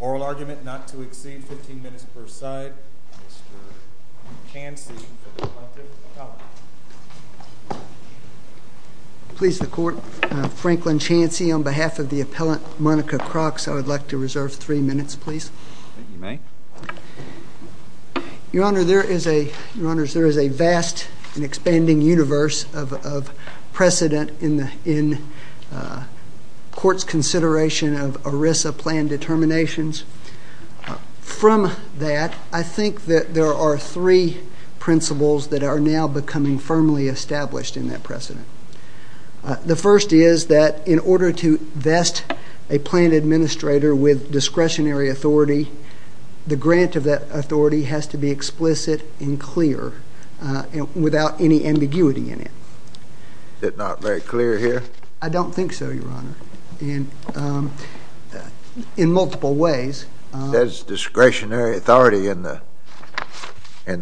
Oral argument not to exceed 15 minutes per side. Mr. Chancey for the appellant, the comment. Please the court, Franklin Chancey on behalf of the appellant, Monica Crox, I would like to reserve three minutes, please. Your Honor, there is a vast and expanding universe of precedent in court's consideration of ERISA plan determinations. From that, I think that there are three principles that are now becoming firmly established in that precedent. The first is that in order to vest a plan administrator with discretionary authority, the grant of that authority has to be explicit and clear without any ambiguity in it. Is it not very clear here? I don't think so, Your Honor. In multiple ways. There's discretionary authority in the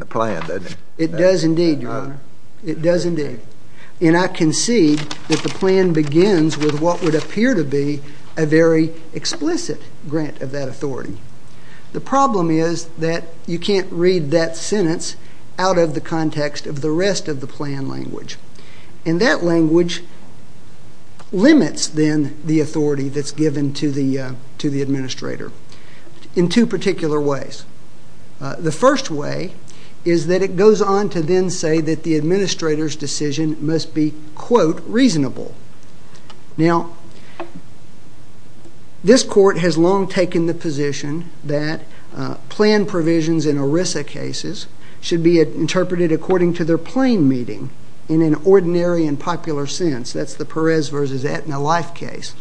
plan, doesn't it? It does indeed, Your Honor. It does indeed. And I concede that the plan begins with what would appear to be a very explicit grant of that authority. The problem is that you can't read that sentence out of the context of the rest of the plan language. And that language limits then the authority that's given to the administrator in two particular ways. The first way is that it goes on to then say that the administrator's decision must be, quote, reasonable. Now, this Court has long taken the position that plan provisions in ERISA cases should be interpreted according to their plain meaning in an ordinary and popular sense. That's the Perez v. Aetna Life case.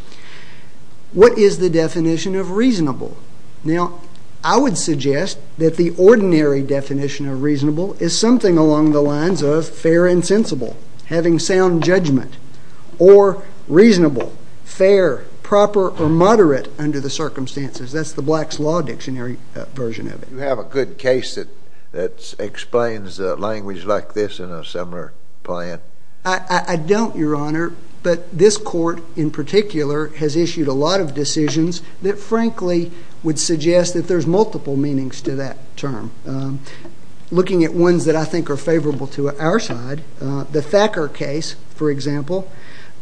What is the definition of reasonable? Now, I would suggest that the ordinary definition of reasonable is something along the lines of fair and sensible, having sound judgment, or reasonable, fair, proper, or moderate under the circumstances. That's the Black's Law Dictionary version of it. Do you have a good case that explains language like this in a similar plan? I don't, Your Honor. But this Court, in particular, has issued a lot of decisions that, frankly, would suggest that there's multiple meanings to that term. Looking at ones that I think are favorable to our side, the Thacker case, for example,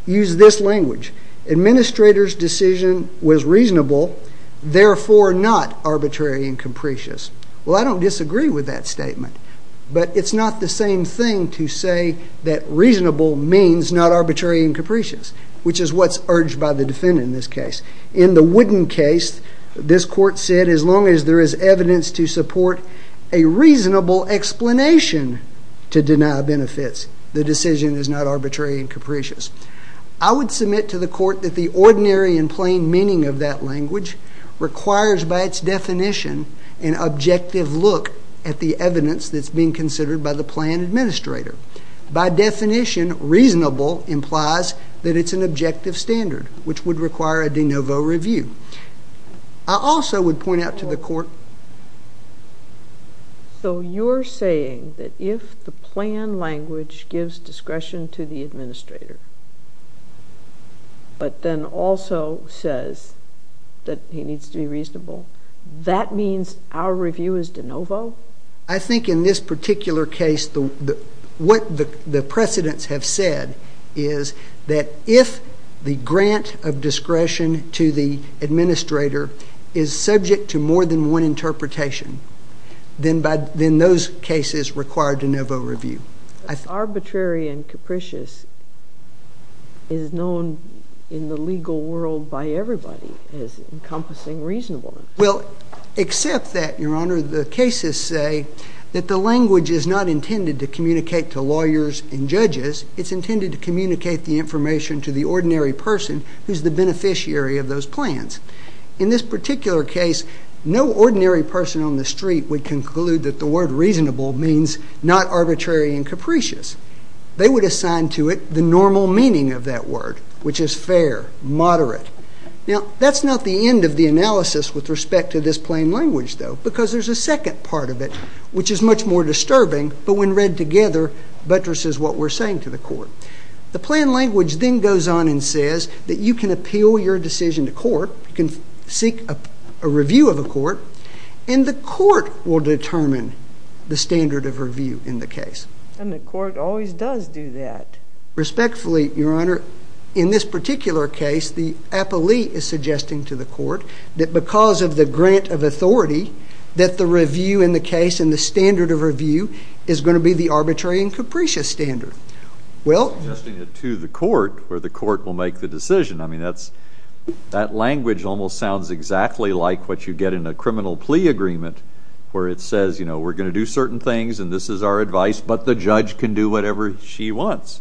used this language. Administrator's decision was reasonable, therefore not arbitrary and capricious. Well, I don't disagree with that statement, but it's not the same thing to say that reasonable means not arbitrary and capricious, which is what's urged by the defendant in this case. In the Wooden case, this Court said as long as there is evidence to support a reasonable explanation to deny benefits, the decision is not arbitrary and capricious. I would submit to the Court that the ordinary and plain meaning of that language requires, by its definition, an objective look at the evidence that's being considered by the plan administrator. By definition, reasonable implies that it's an objective standard, which would require a de novo review. I also would point out to the Court— So you're saying that if the plan language gives discretion to the administrator, but then also says that he needs to be reasonable, that means our review is de novo? I think in this particular case, what the precedents have said is that if the grant of discretion to the administrator is subject to more than one interpretation, then those cases require de novo review. Arbitrary and capricious is known in the legal world by everybody as encompassing reasonableness. Well, except that, Your Honor, the cases say that the language is not intended to communicate to lawyers and judges. It's intended to communicate the information to the ordinary person who's the beneficiary of those plans. In this particular case, no ordinary person on the street would conclude that the word reasonable means not arbitrary and capricious. They would assign to it the normal meaning of that word, which is fair, moderate. Now, that's not the end of the analysis with respect to this plain language, though, because there's a second part of it, which is much more disturbing, but when read together buttresses what we're saying to the court. The plain language then goes on and says that you can appeal your decision to court, you can seek a review of a court, and the court will determine the standard of review in the case. And the court always does do that. Respectfully, Your Honor, in this particular case, the appellee is suggesting to the court that because of the grant of authority, that the review in the case and the standard of review is going to be the arbitrary and capricious standard. Suggesting it to the court, where the court will make the decision. I mean, that language almost sounds exactly like what you get in a criminal plea agreement, where it says, you know, we're going to do certain things and this is our advice, but the judge can do whatever she wants.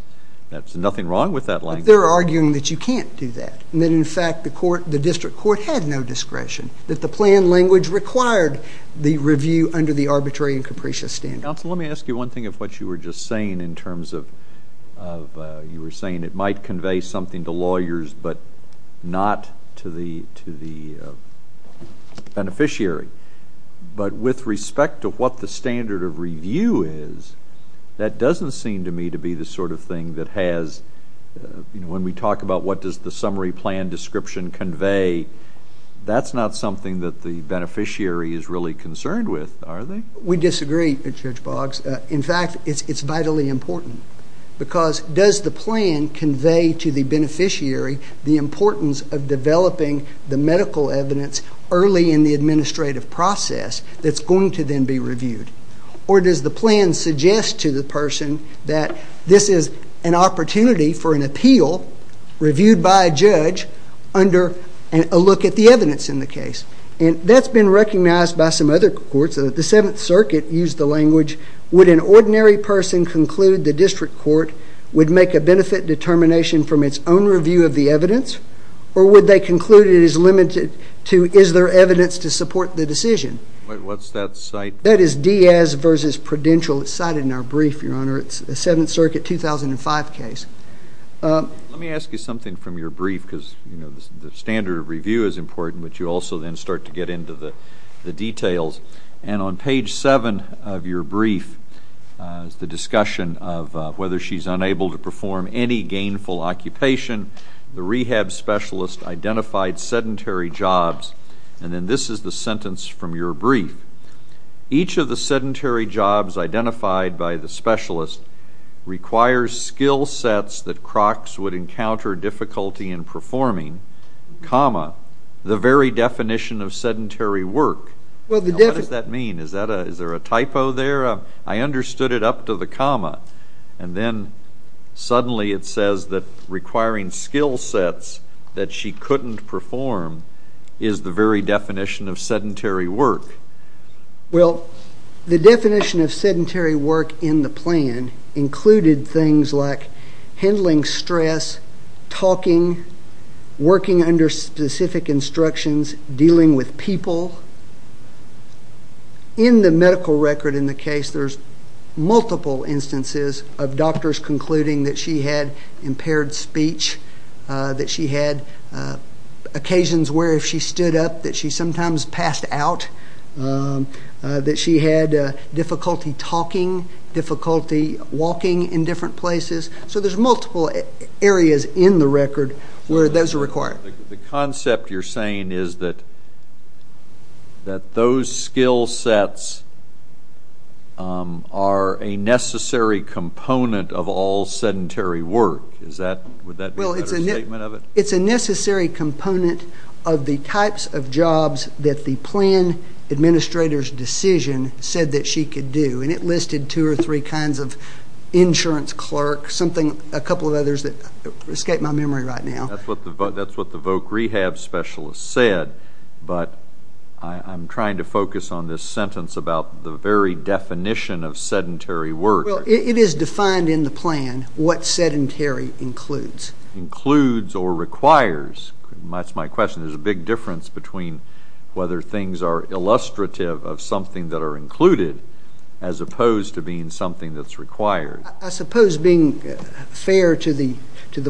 There's nothing wrong with that language. They're arguing that you can't do that, and that in fact the district court had no discretion, that the plain language required the review under the arbitrary and capricious standard. Counsel, let me ask you one thing of what you were just saying in terms of, you were saying it might convey something to lawyers but not to the beneficiary. But with respect to what the standard of review is, that doesn't seem to me to be the sort of thing that has, you know, when we talk about what does the summary plan description convey, that's not something that the beneficiary is really concerned with, are they? We disagree, Judge Boggs. In fact, it's vitally important because does the plan convey to the beneficiary the importance of developing the medical evidence early in the administrative process that's going to then be reviewed? Or does the plan suggest to the person that this is an opportunity for an appeal reviewed by a judge under a look at the evidence in the case? And that's been recognized by some other courts. The Seventh Circuit used the language, would an ordinary person conclude the district court would make a benefit determination from its own review of the evidence, or would they conclude it is limited to is there evidence to support the decision? What's that cite? That is Diaz v. Prudential. It's cited in our brief, Your Honor. It's a Seventh Circuit 2005 case. Let me ask you something from your brief because, you know, the standard of review is important, but you also then start to get into the details. And on page 7 of your brief is the discussion of whether she's unable to perform any gainful occupation. The rehab specialist identified sedentary jobs. And then this is the sentence from your brief. Each of the sedentary jobs identified by the specialist requires skill sets that Crocs would encounter difficulty in performing, comma, the very definition of sedentary work. Well, the definition Now, what does that mean? Is there a typo there? I understood it up to the comma. And then suddenly it says that requiring skill sets that she couldn't perform is the very definition of sedentary work. Well, the definition of sedentary work in the plan included things like handling stress, talking, working under specific instructions, dealing with people. In the medical record in the case, there's multiple instances of doctors concluding that she had impaired speech, that she had occasions where if she stood up that she sometimes passed out, that she had difficulty talking, difficulty walking in different places. So there's multiple areas in the record where those are required. The concept you're saying is that those skill sets are a necessary component of all sedentary work. Would that be a better statement of it? It's a necessary component of the types of jobs that the plan administrator's decision said that she could do. And it listed two or three kinds of insurance clerks, a couple of others that escape my memory right now. That's what the voc rehab specialist said. But I'm trying to focus on this sentence about the very definition of sedentary work. Well, it is defined in the plan what sedentary includes. Includes or requires. That's my question. There's a big difference between whether things are illustrative of something that are included as opposed to being something that's required. I suppose being fair to the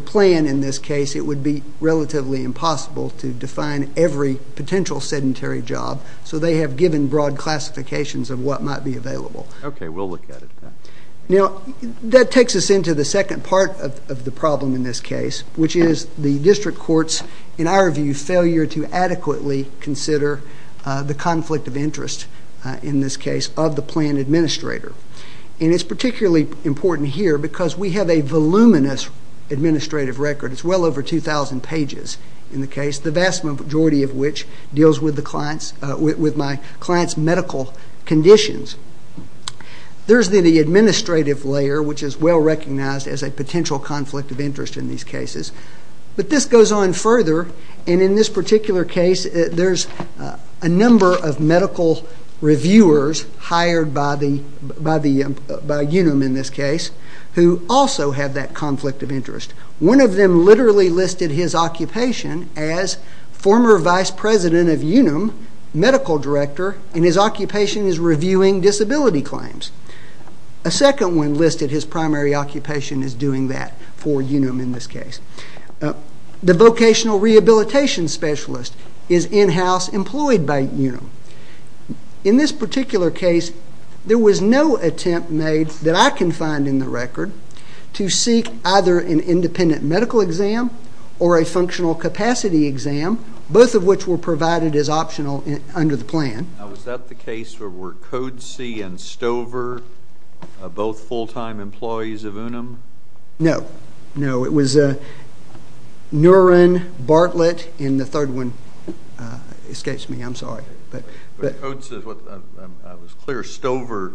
plan in this case, it would be relatively impossible to define every potential sedentary job. So they have given broad classifications of what might be available. Okay. We'll look at it. That takes us into the second part of the problem in this case, which is the district court's, in our view, failure to adequately consider the conflict of interest in this case of the plan administrator. And it's particularly important here because we have a voluminous administrative record. It's well over 2,000 pages in the case, the vast majority of which deals with my client's medical conditions. There's the administrative layer, which is well recognized as a potential conflict of interest in these cases. But this goes on further, and in this particular case, there's a number of medical reviewers hired by UNUM in this case who also have that conflict of interest. One of them literally listed his occupation as former vice president of UNUM, medical director, and his occupation is reviewing disability claims. A second one listed his primary occupation as doing that for UNUM in this case. The vocational rehabilitation specialist is in-house employed by UNUM. In this particular case, there was no attempt made that I can find in the record to seek either an independent medical exam or a functional capacity exam, both of which were provided as optional under the plan. Now, was that the case where Code C and Stover are both full-time employees of UNUM? No. No, it was Nuren Bartlett in the third one. It escapes me, I'm sorry. But Code C, I was clear Stover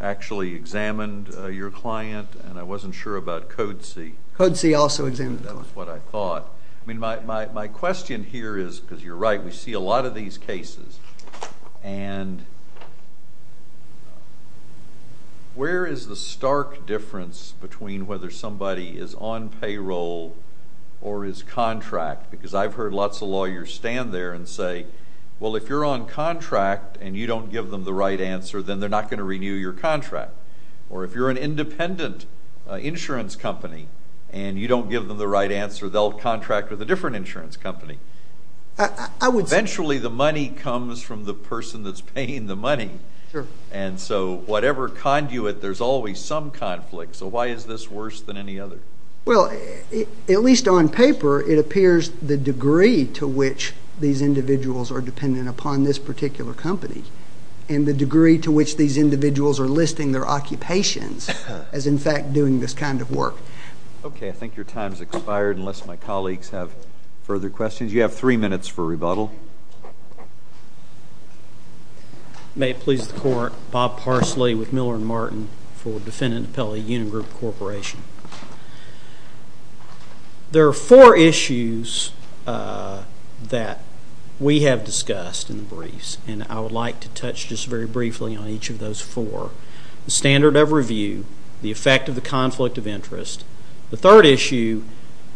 actually examined your client, and I wasn't sure about Code C. Code C also examined that one. That's what I thought. I mean, my question here is, because you're right, we see a lot of these cases, and where is the stark difference between whether somebody is on payroll or is contract? Because I've heard lots of lawyers stand there and say, well, if you're on contract and you don't give them the right answer, then they're not going to renew your contract. Or if you're an independent insurance company and you don't give them the right answer, they'll contract with a different insurance company. Eventually, the money comes from the person that's paying the money. And so whatever conduit, there's always some conflict. So why is this worse than any other? Well, at least on paper, it appears the degree to which these individuals are dependent upon this particular company and the degree to which these individuals are listing their occupations as, in fact, doing this kind of work. OK, I think your time's expired, unless my colleagues have further questions. You have three minutes for rebuttal. May it please the court. Bob Parsley with Miller & Martin for Defendant Appellee Union Group Corporation. There are four issues that we have discussed in the briefs. And I would like to touch just very briefly on each of those four. The standard of review, the effect of the conflict of interest. The third issue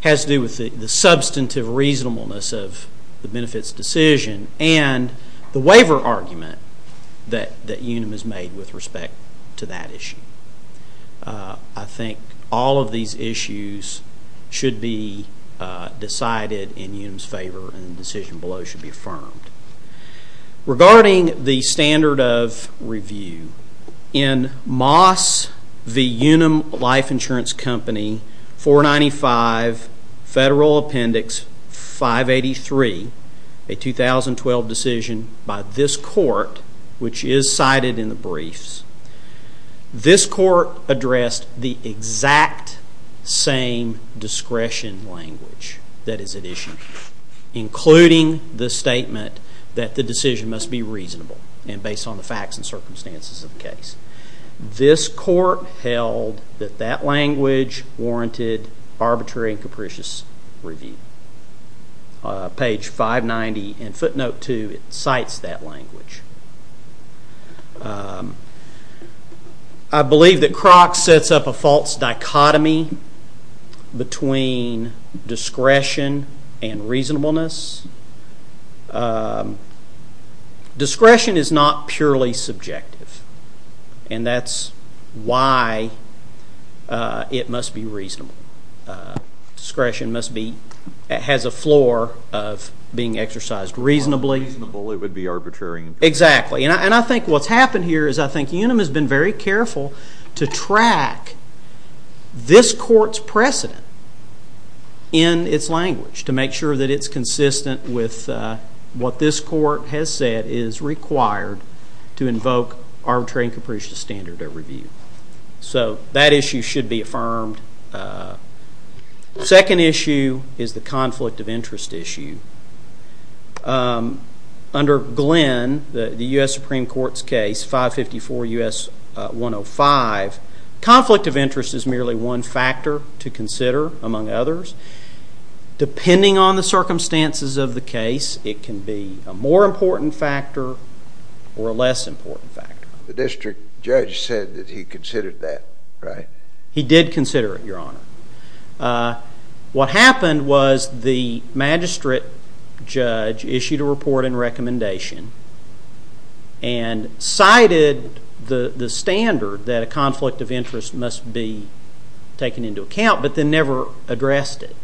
has to do with the substantive reasonableness of the benefits decision and the waiver argument that UNIM has made with respect to that issue. I think all of these issues should be decided in UNIM's favor and the decision below should be affirmed. Regarding the standard of review, in Moss v. UNIM Life Insurance Company, 495 Federal Appendix 583, a 2012 decision by this court, which is cited in the briefs, this court addressed the exact same discretion language that is at issue, including the statement that the decision must be reasonable and based on the facts and circumstances of the case. This court held that that language warranted arbitrary and capricious review. Page 590 in footnote 2, it cites that language. I believe that Croc sets up a false dichotomy between discretion and reasonableness. Discretion is not purely subjective and that's why it must be reasonable. Discretion must be, it has a floor of being exercised reasonably. If it's reasonable, it would be arbitrary and capricious. Exactly. And I think what's happened here is I think UNIM has been very careful to track this court's precedent in its language to make sure that it's consistent with what this court has said is required to invoke arbitrary and capricious standard of review. So that issue should be affirmed. And the second issue is the conflict of interest issue. Under Glenn, the U.S. Supreme Court's case, 554 U.S. 105, conflict of interest is merely one factor to consider among others. Depending on the circumstances of the case, it can be a more important factor or a less important factor. The district judge said that he considered that, right? He did consider it, Your Honor. What happened was the magistrate judge issued a report and recommendation and cited the standard that a conflict of interest must be taken into account, but then never addressed it.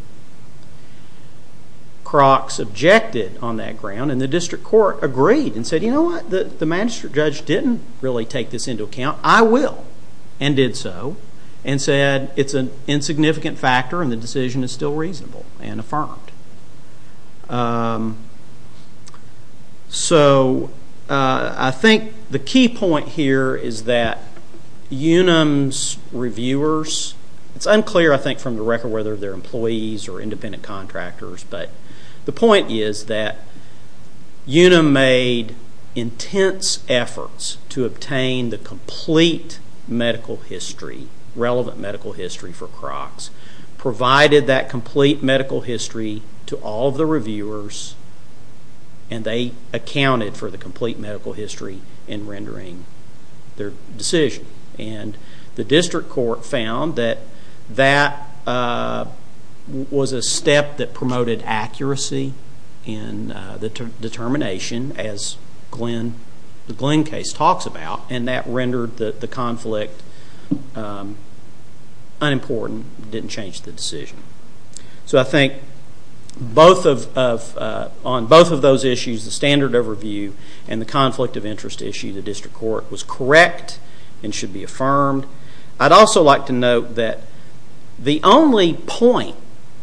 Crocks objected on that ground and the district court agreed and said, you know what? The magistrate judge didn't really take this into account. I will, and did so, and said it's an insignificant factor and the decision is still reasonable and affirmed. So I think the key point here is that Unum's reviewers, it's unclear I think from the record whether they're employees or independent contractors, but the point is that Unum made intense efforts to obtain the complete medical history, relevant medical history for Crocks, provided that complete medical history to all of the reviewers, and they accounted for the complete medical history in rendering their decision. The district court found that that was a step that promoted accuracy in the determination as the Glenn case talks about, and that rendered the conflict unimportant, didn't change the decision. So I think on both of those issues, the standard overview and the conflict of interest issue, the district court was correct and should be affirmed. I'd also like to note that the only point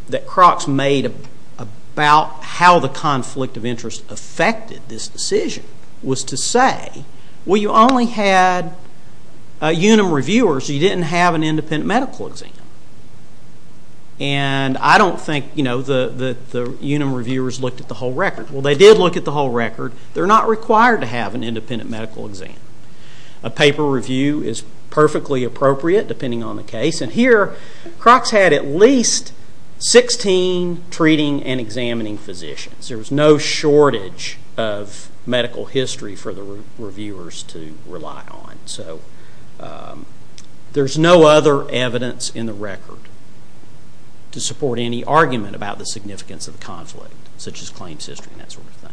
that Crocks made about how the conflict of interest affected this decision was to say, well, you only had Unum reviewers, you didn't have an independent medical exam, and I don't think the Unum reviewers looked at the whole record. Well, they did look at the whole record. They're not required to have an independent medical exam. A paper review is perfectly appropriate depending on the case, and here Crocks had at least 16 treating and examining physicians. There was no shortage of medical history for the reviewers to rely on. So there's no other evidence in the record to support any argument about the significance of the conflict, such as claims history and that sort of thing.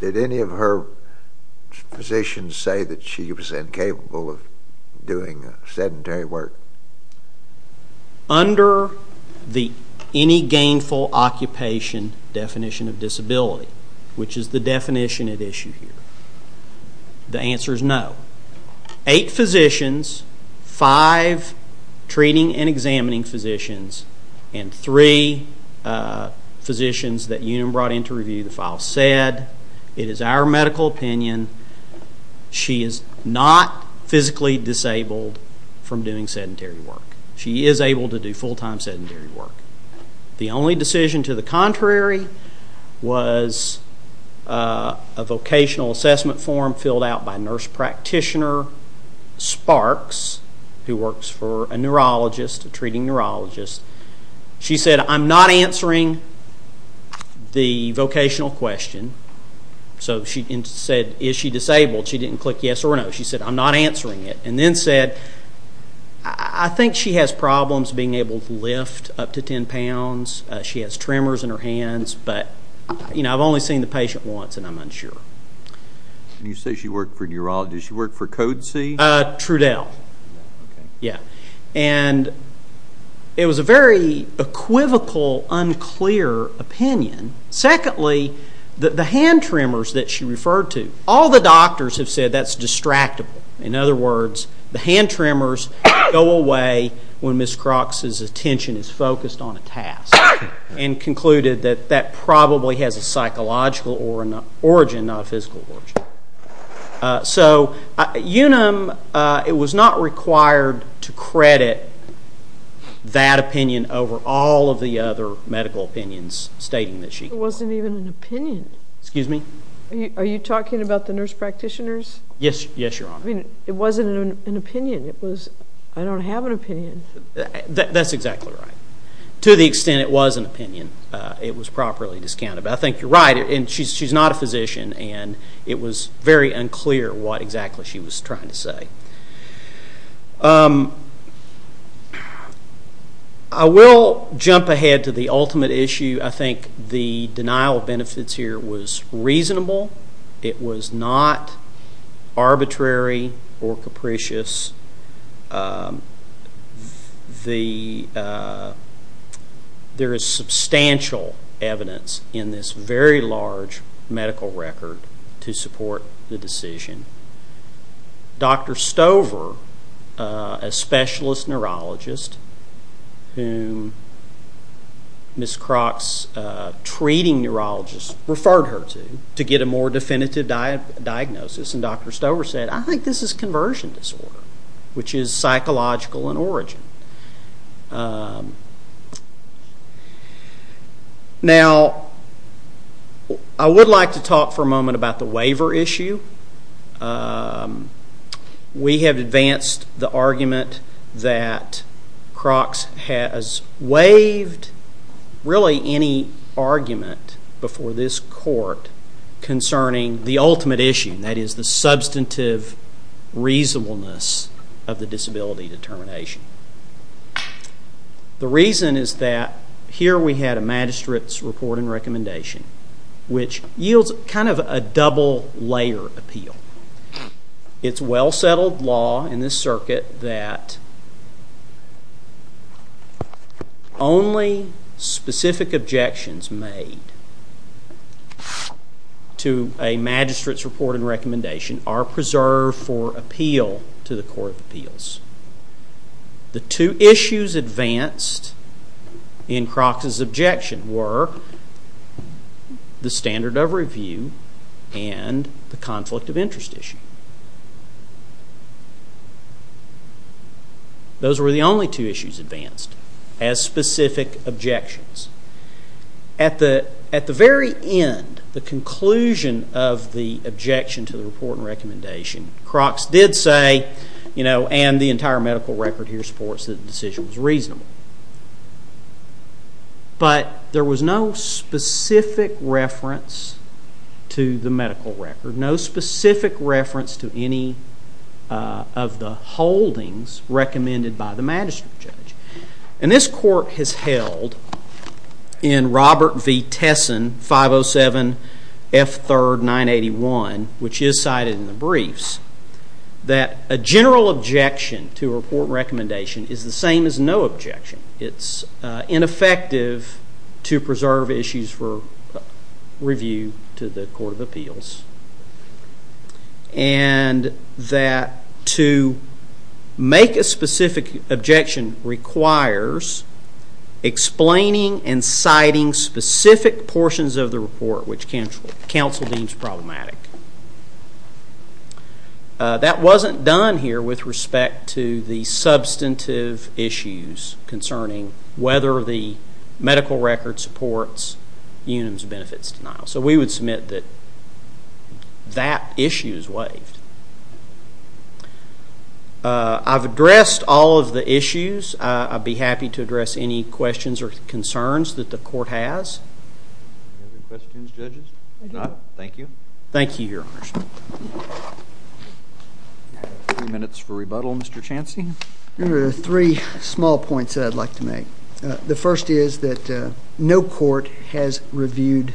Did any of her physicians say that she was incapable of doing sedentary work? Under the any gainful occupation definition of disability, which is the definition at issue here, the answer is no. Eight physicians, five treating and examining physicians, and three physicians that Unum brought in to review the file said, it is our medical opinion, she is not physically disabled from doing sedentary work. She is able to do full-time sedentary work. The only decision to the contrary was a vocational assessment form filled out by nurse practitioner Sparks who works for a neurologist, a treating neurologist. She said, I'm not answering the vocational question. So she said, is she disabled? She didn't click yes or no. She said, I'm not answering it, and then said, I think she has problems being able to lift up to 10 pounds. She has tremors in her hands, but I've only seen the patient once, and I'm unsure. You say she worked for a neurologist. Did she work for Code C? Trudell. OK. Yeah. And it was a very equivocal, unclear opinion. Secondly, the hand tremors that she referred to, all the doctors have said that's distractible. In other words, the hand tremors go away when Ms. Crox's attention is focused on a task and concluded that that probably has a psychological origin, not a physical origin. So Unum, it was not required to credit that opinion over all of the other medical opinions stating that she could. It wasn't even an opinion. Excuse me? Are you talking about the nurse practitioners? Yes. Yes, Your Honor. I mean, it wasn't an opinion. It was, I don't have an opinion. That's exactly right. To the extent it was an opinion, it was properly discounted. But I think you're right, and she's not a physician, and it was very unclear what exactly she was trying to say. I will jump ahead to the ultimate issue. The denial of benefits here was reasonable. It was not arbitrary or capricious. There is substantial evidence in this very large medical record to support the decision. Dr. Stover, a specialist neurologist whom Ms. Crox's treating neurologist referred her to, to get a more definitive diagnosis, and Dr. Stover said, I think this is conversion disorder, which is psychological in origin. Now, I would like to talk for a moment about the waiver issue. We have advanced the argument that Crox has waived really any argument before this court concerning the ultimate issue, that is, the substantive reasonableness of the disability determination. The reason is that here we had a magistrate's report and recommendation, which yields kind of a double-layer appeal. It's well-settled law in this circuit that only specific objections made to a magistrate's report and recommendation are preserved for appeal to the Court of Appeals. The two issues advanced in Crox's objection were the standard of review and the conflict of interest issue. Those were the only two issues advanced as specific objections. At the very end, the conclusion of the objection to the report and recommendation, Crox did say, and the entire medical record here supports that the decision was reasonable. But there was no specific reference to the medical record, no specific reference to any of the holdings recommended by the magistrate judge. And this court has held in Robert V. Tesson 507 F. 3rd 981, which is cited in the briefs, that a general objection to a report and recommendation is the same as no objection. It's ineffective to preserve issues for review to the Court of Appeals. And that to make a specific objection requires explaining and citing specific portions of the report which counsel deems problematic. That wasn't done here with respect to the substantive issues concerning whether the medical record supports Unum's benefits denial. So we would submit that that issue is waived. I've addressed all of the issues. I'd be happy to address any questions or concerns that the court has. Any other questions, judges? If not, thank you. Thank you, Your Honor. A few minutes for rebuttal, Mr. Chancy. There are three small points that I'd like to make. The first is that no court has reviewed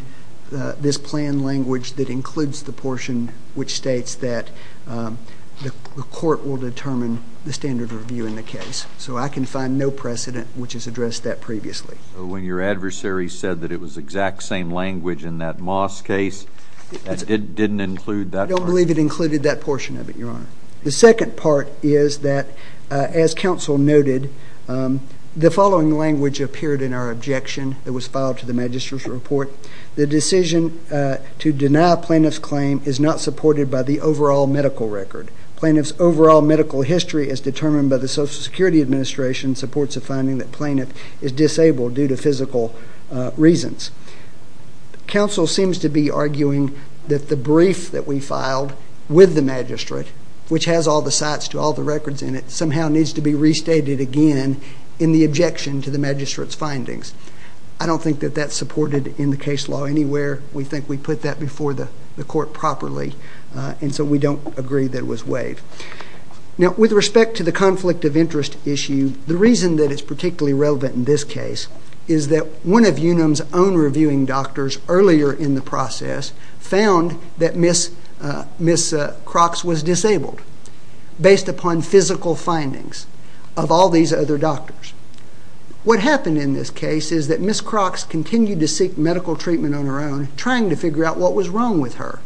this plan language that includes the portion which states that the court will determine the standard of review in the case. So I can find no precedent which has addressed that previously. When your adversary said that it was exact same language in that Moss case, that didn't include that part? I don't believe it included that portion of it, Your Honor. The second part is that, as counsel noted, the following language appeared in our objection that was filed to the magistrate's report. The decision to deny plaintiff's claim is not supported by the overall medical record. Plaintiff's overall medical history as determined by the Social Security Administration supports the finding that plaintiff is disabled due to physical reasons. Counsel seems to be arguing that the brief that we filed with the magistrate, which has all the sites to all the records in it, somehow needs to be restated again in the objection to the magistrate's findings. I don't think that that's supported in the case law anywhere. We think we put that before the court properly, and so we don't agree that it was waived. Now, with respect to the conflict of interest issue, the reason that it's particularly relevant in this case is that one of UNUM's own reviewing doctors earlier in the process found that Ms. Crox was disabled based upon physical findings of all these other doctors. What happened in this case is that Ms. Crox continued to seek medical treatment on her own, trying to figure out what was wrong with her.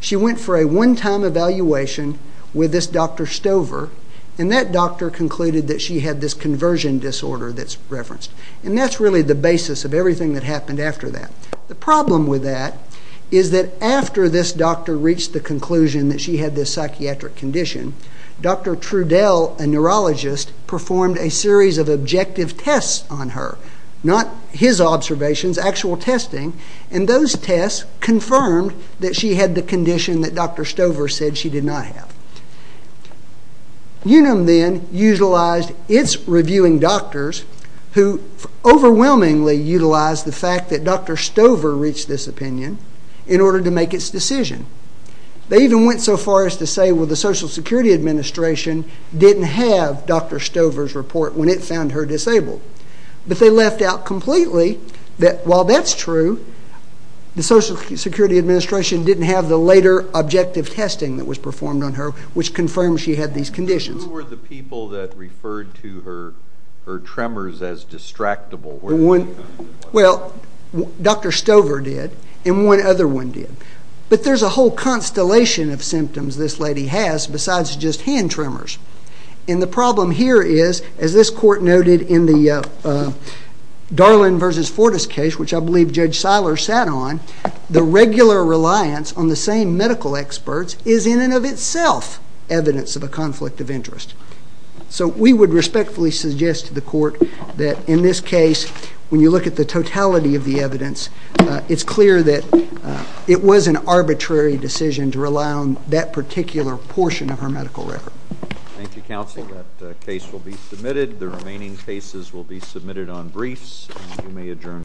She went for a one-time evaluation with this Dr. Stover, and that doctor concluded that she had this conversion disorder that's referenced. And that's really the basis of everything that happened after that. The problem with that is that after this doctor reached the conclusion that she had this psychiatric condition, Dr. Trudell, a neurologist, performed a series of objective tests on her. Not his observations, actual testing, and those tests confirmed that she had the condition that Dr. Stover said she did not have. UNUM then utilized its reviewing doctors who overwhelmingly utilized the fact that Dr. Stover reached this opinion in order to make its decision. They even went so far as to say, well, the Social Security Administration didn't have Dr. Stover's report when it found her disabled. But they left out completely that while that's true, the Social Security Administration didn't have the later objective testing that was performed on her, which confirmed she had these conditions. Who were the people that referred to her tremors as distractible? Well, Dr. Stover did, and one other one did. But there's a whole constellation of symptoms this lady has besides just hand tremors. And the problem here is, as this Court noted in the Darlan v. Fortas case, which I believe Judge Seiler sat on, the regular reliance on the same medical experts is in and of itself evidence of a conflict of interest. So we would respectfully suggest to the Court that in this case, when you look at the totality of the evidence, it's clear that it was an arbitrary decision to rely on that particular portion of her medical record. Thank you, Counsel. That case will be submitted. The remaining cases will be submitted on briefs, and you may adjourn.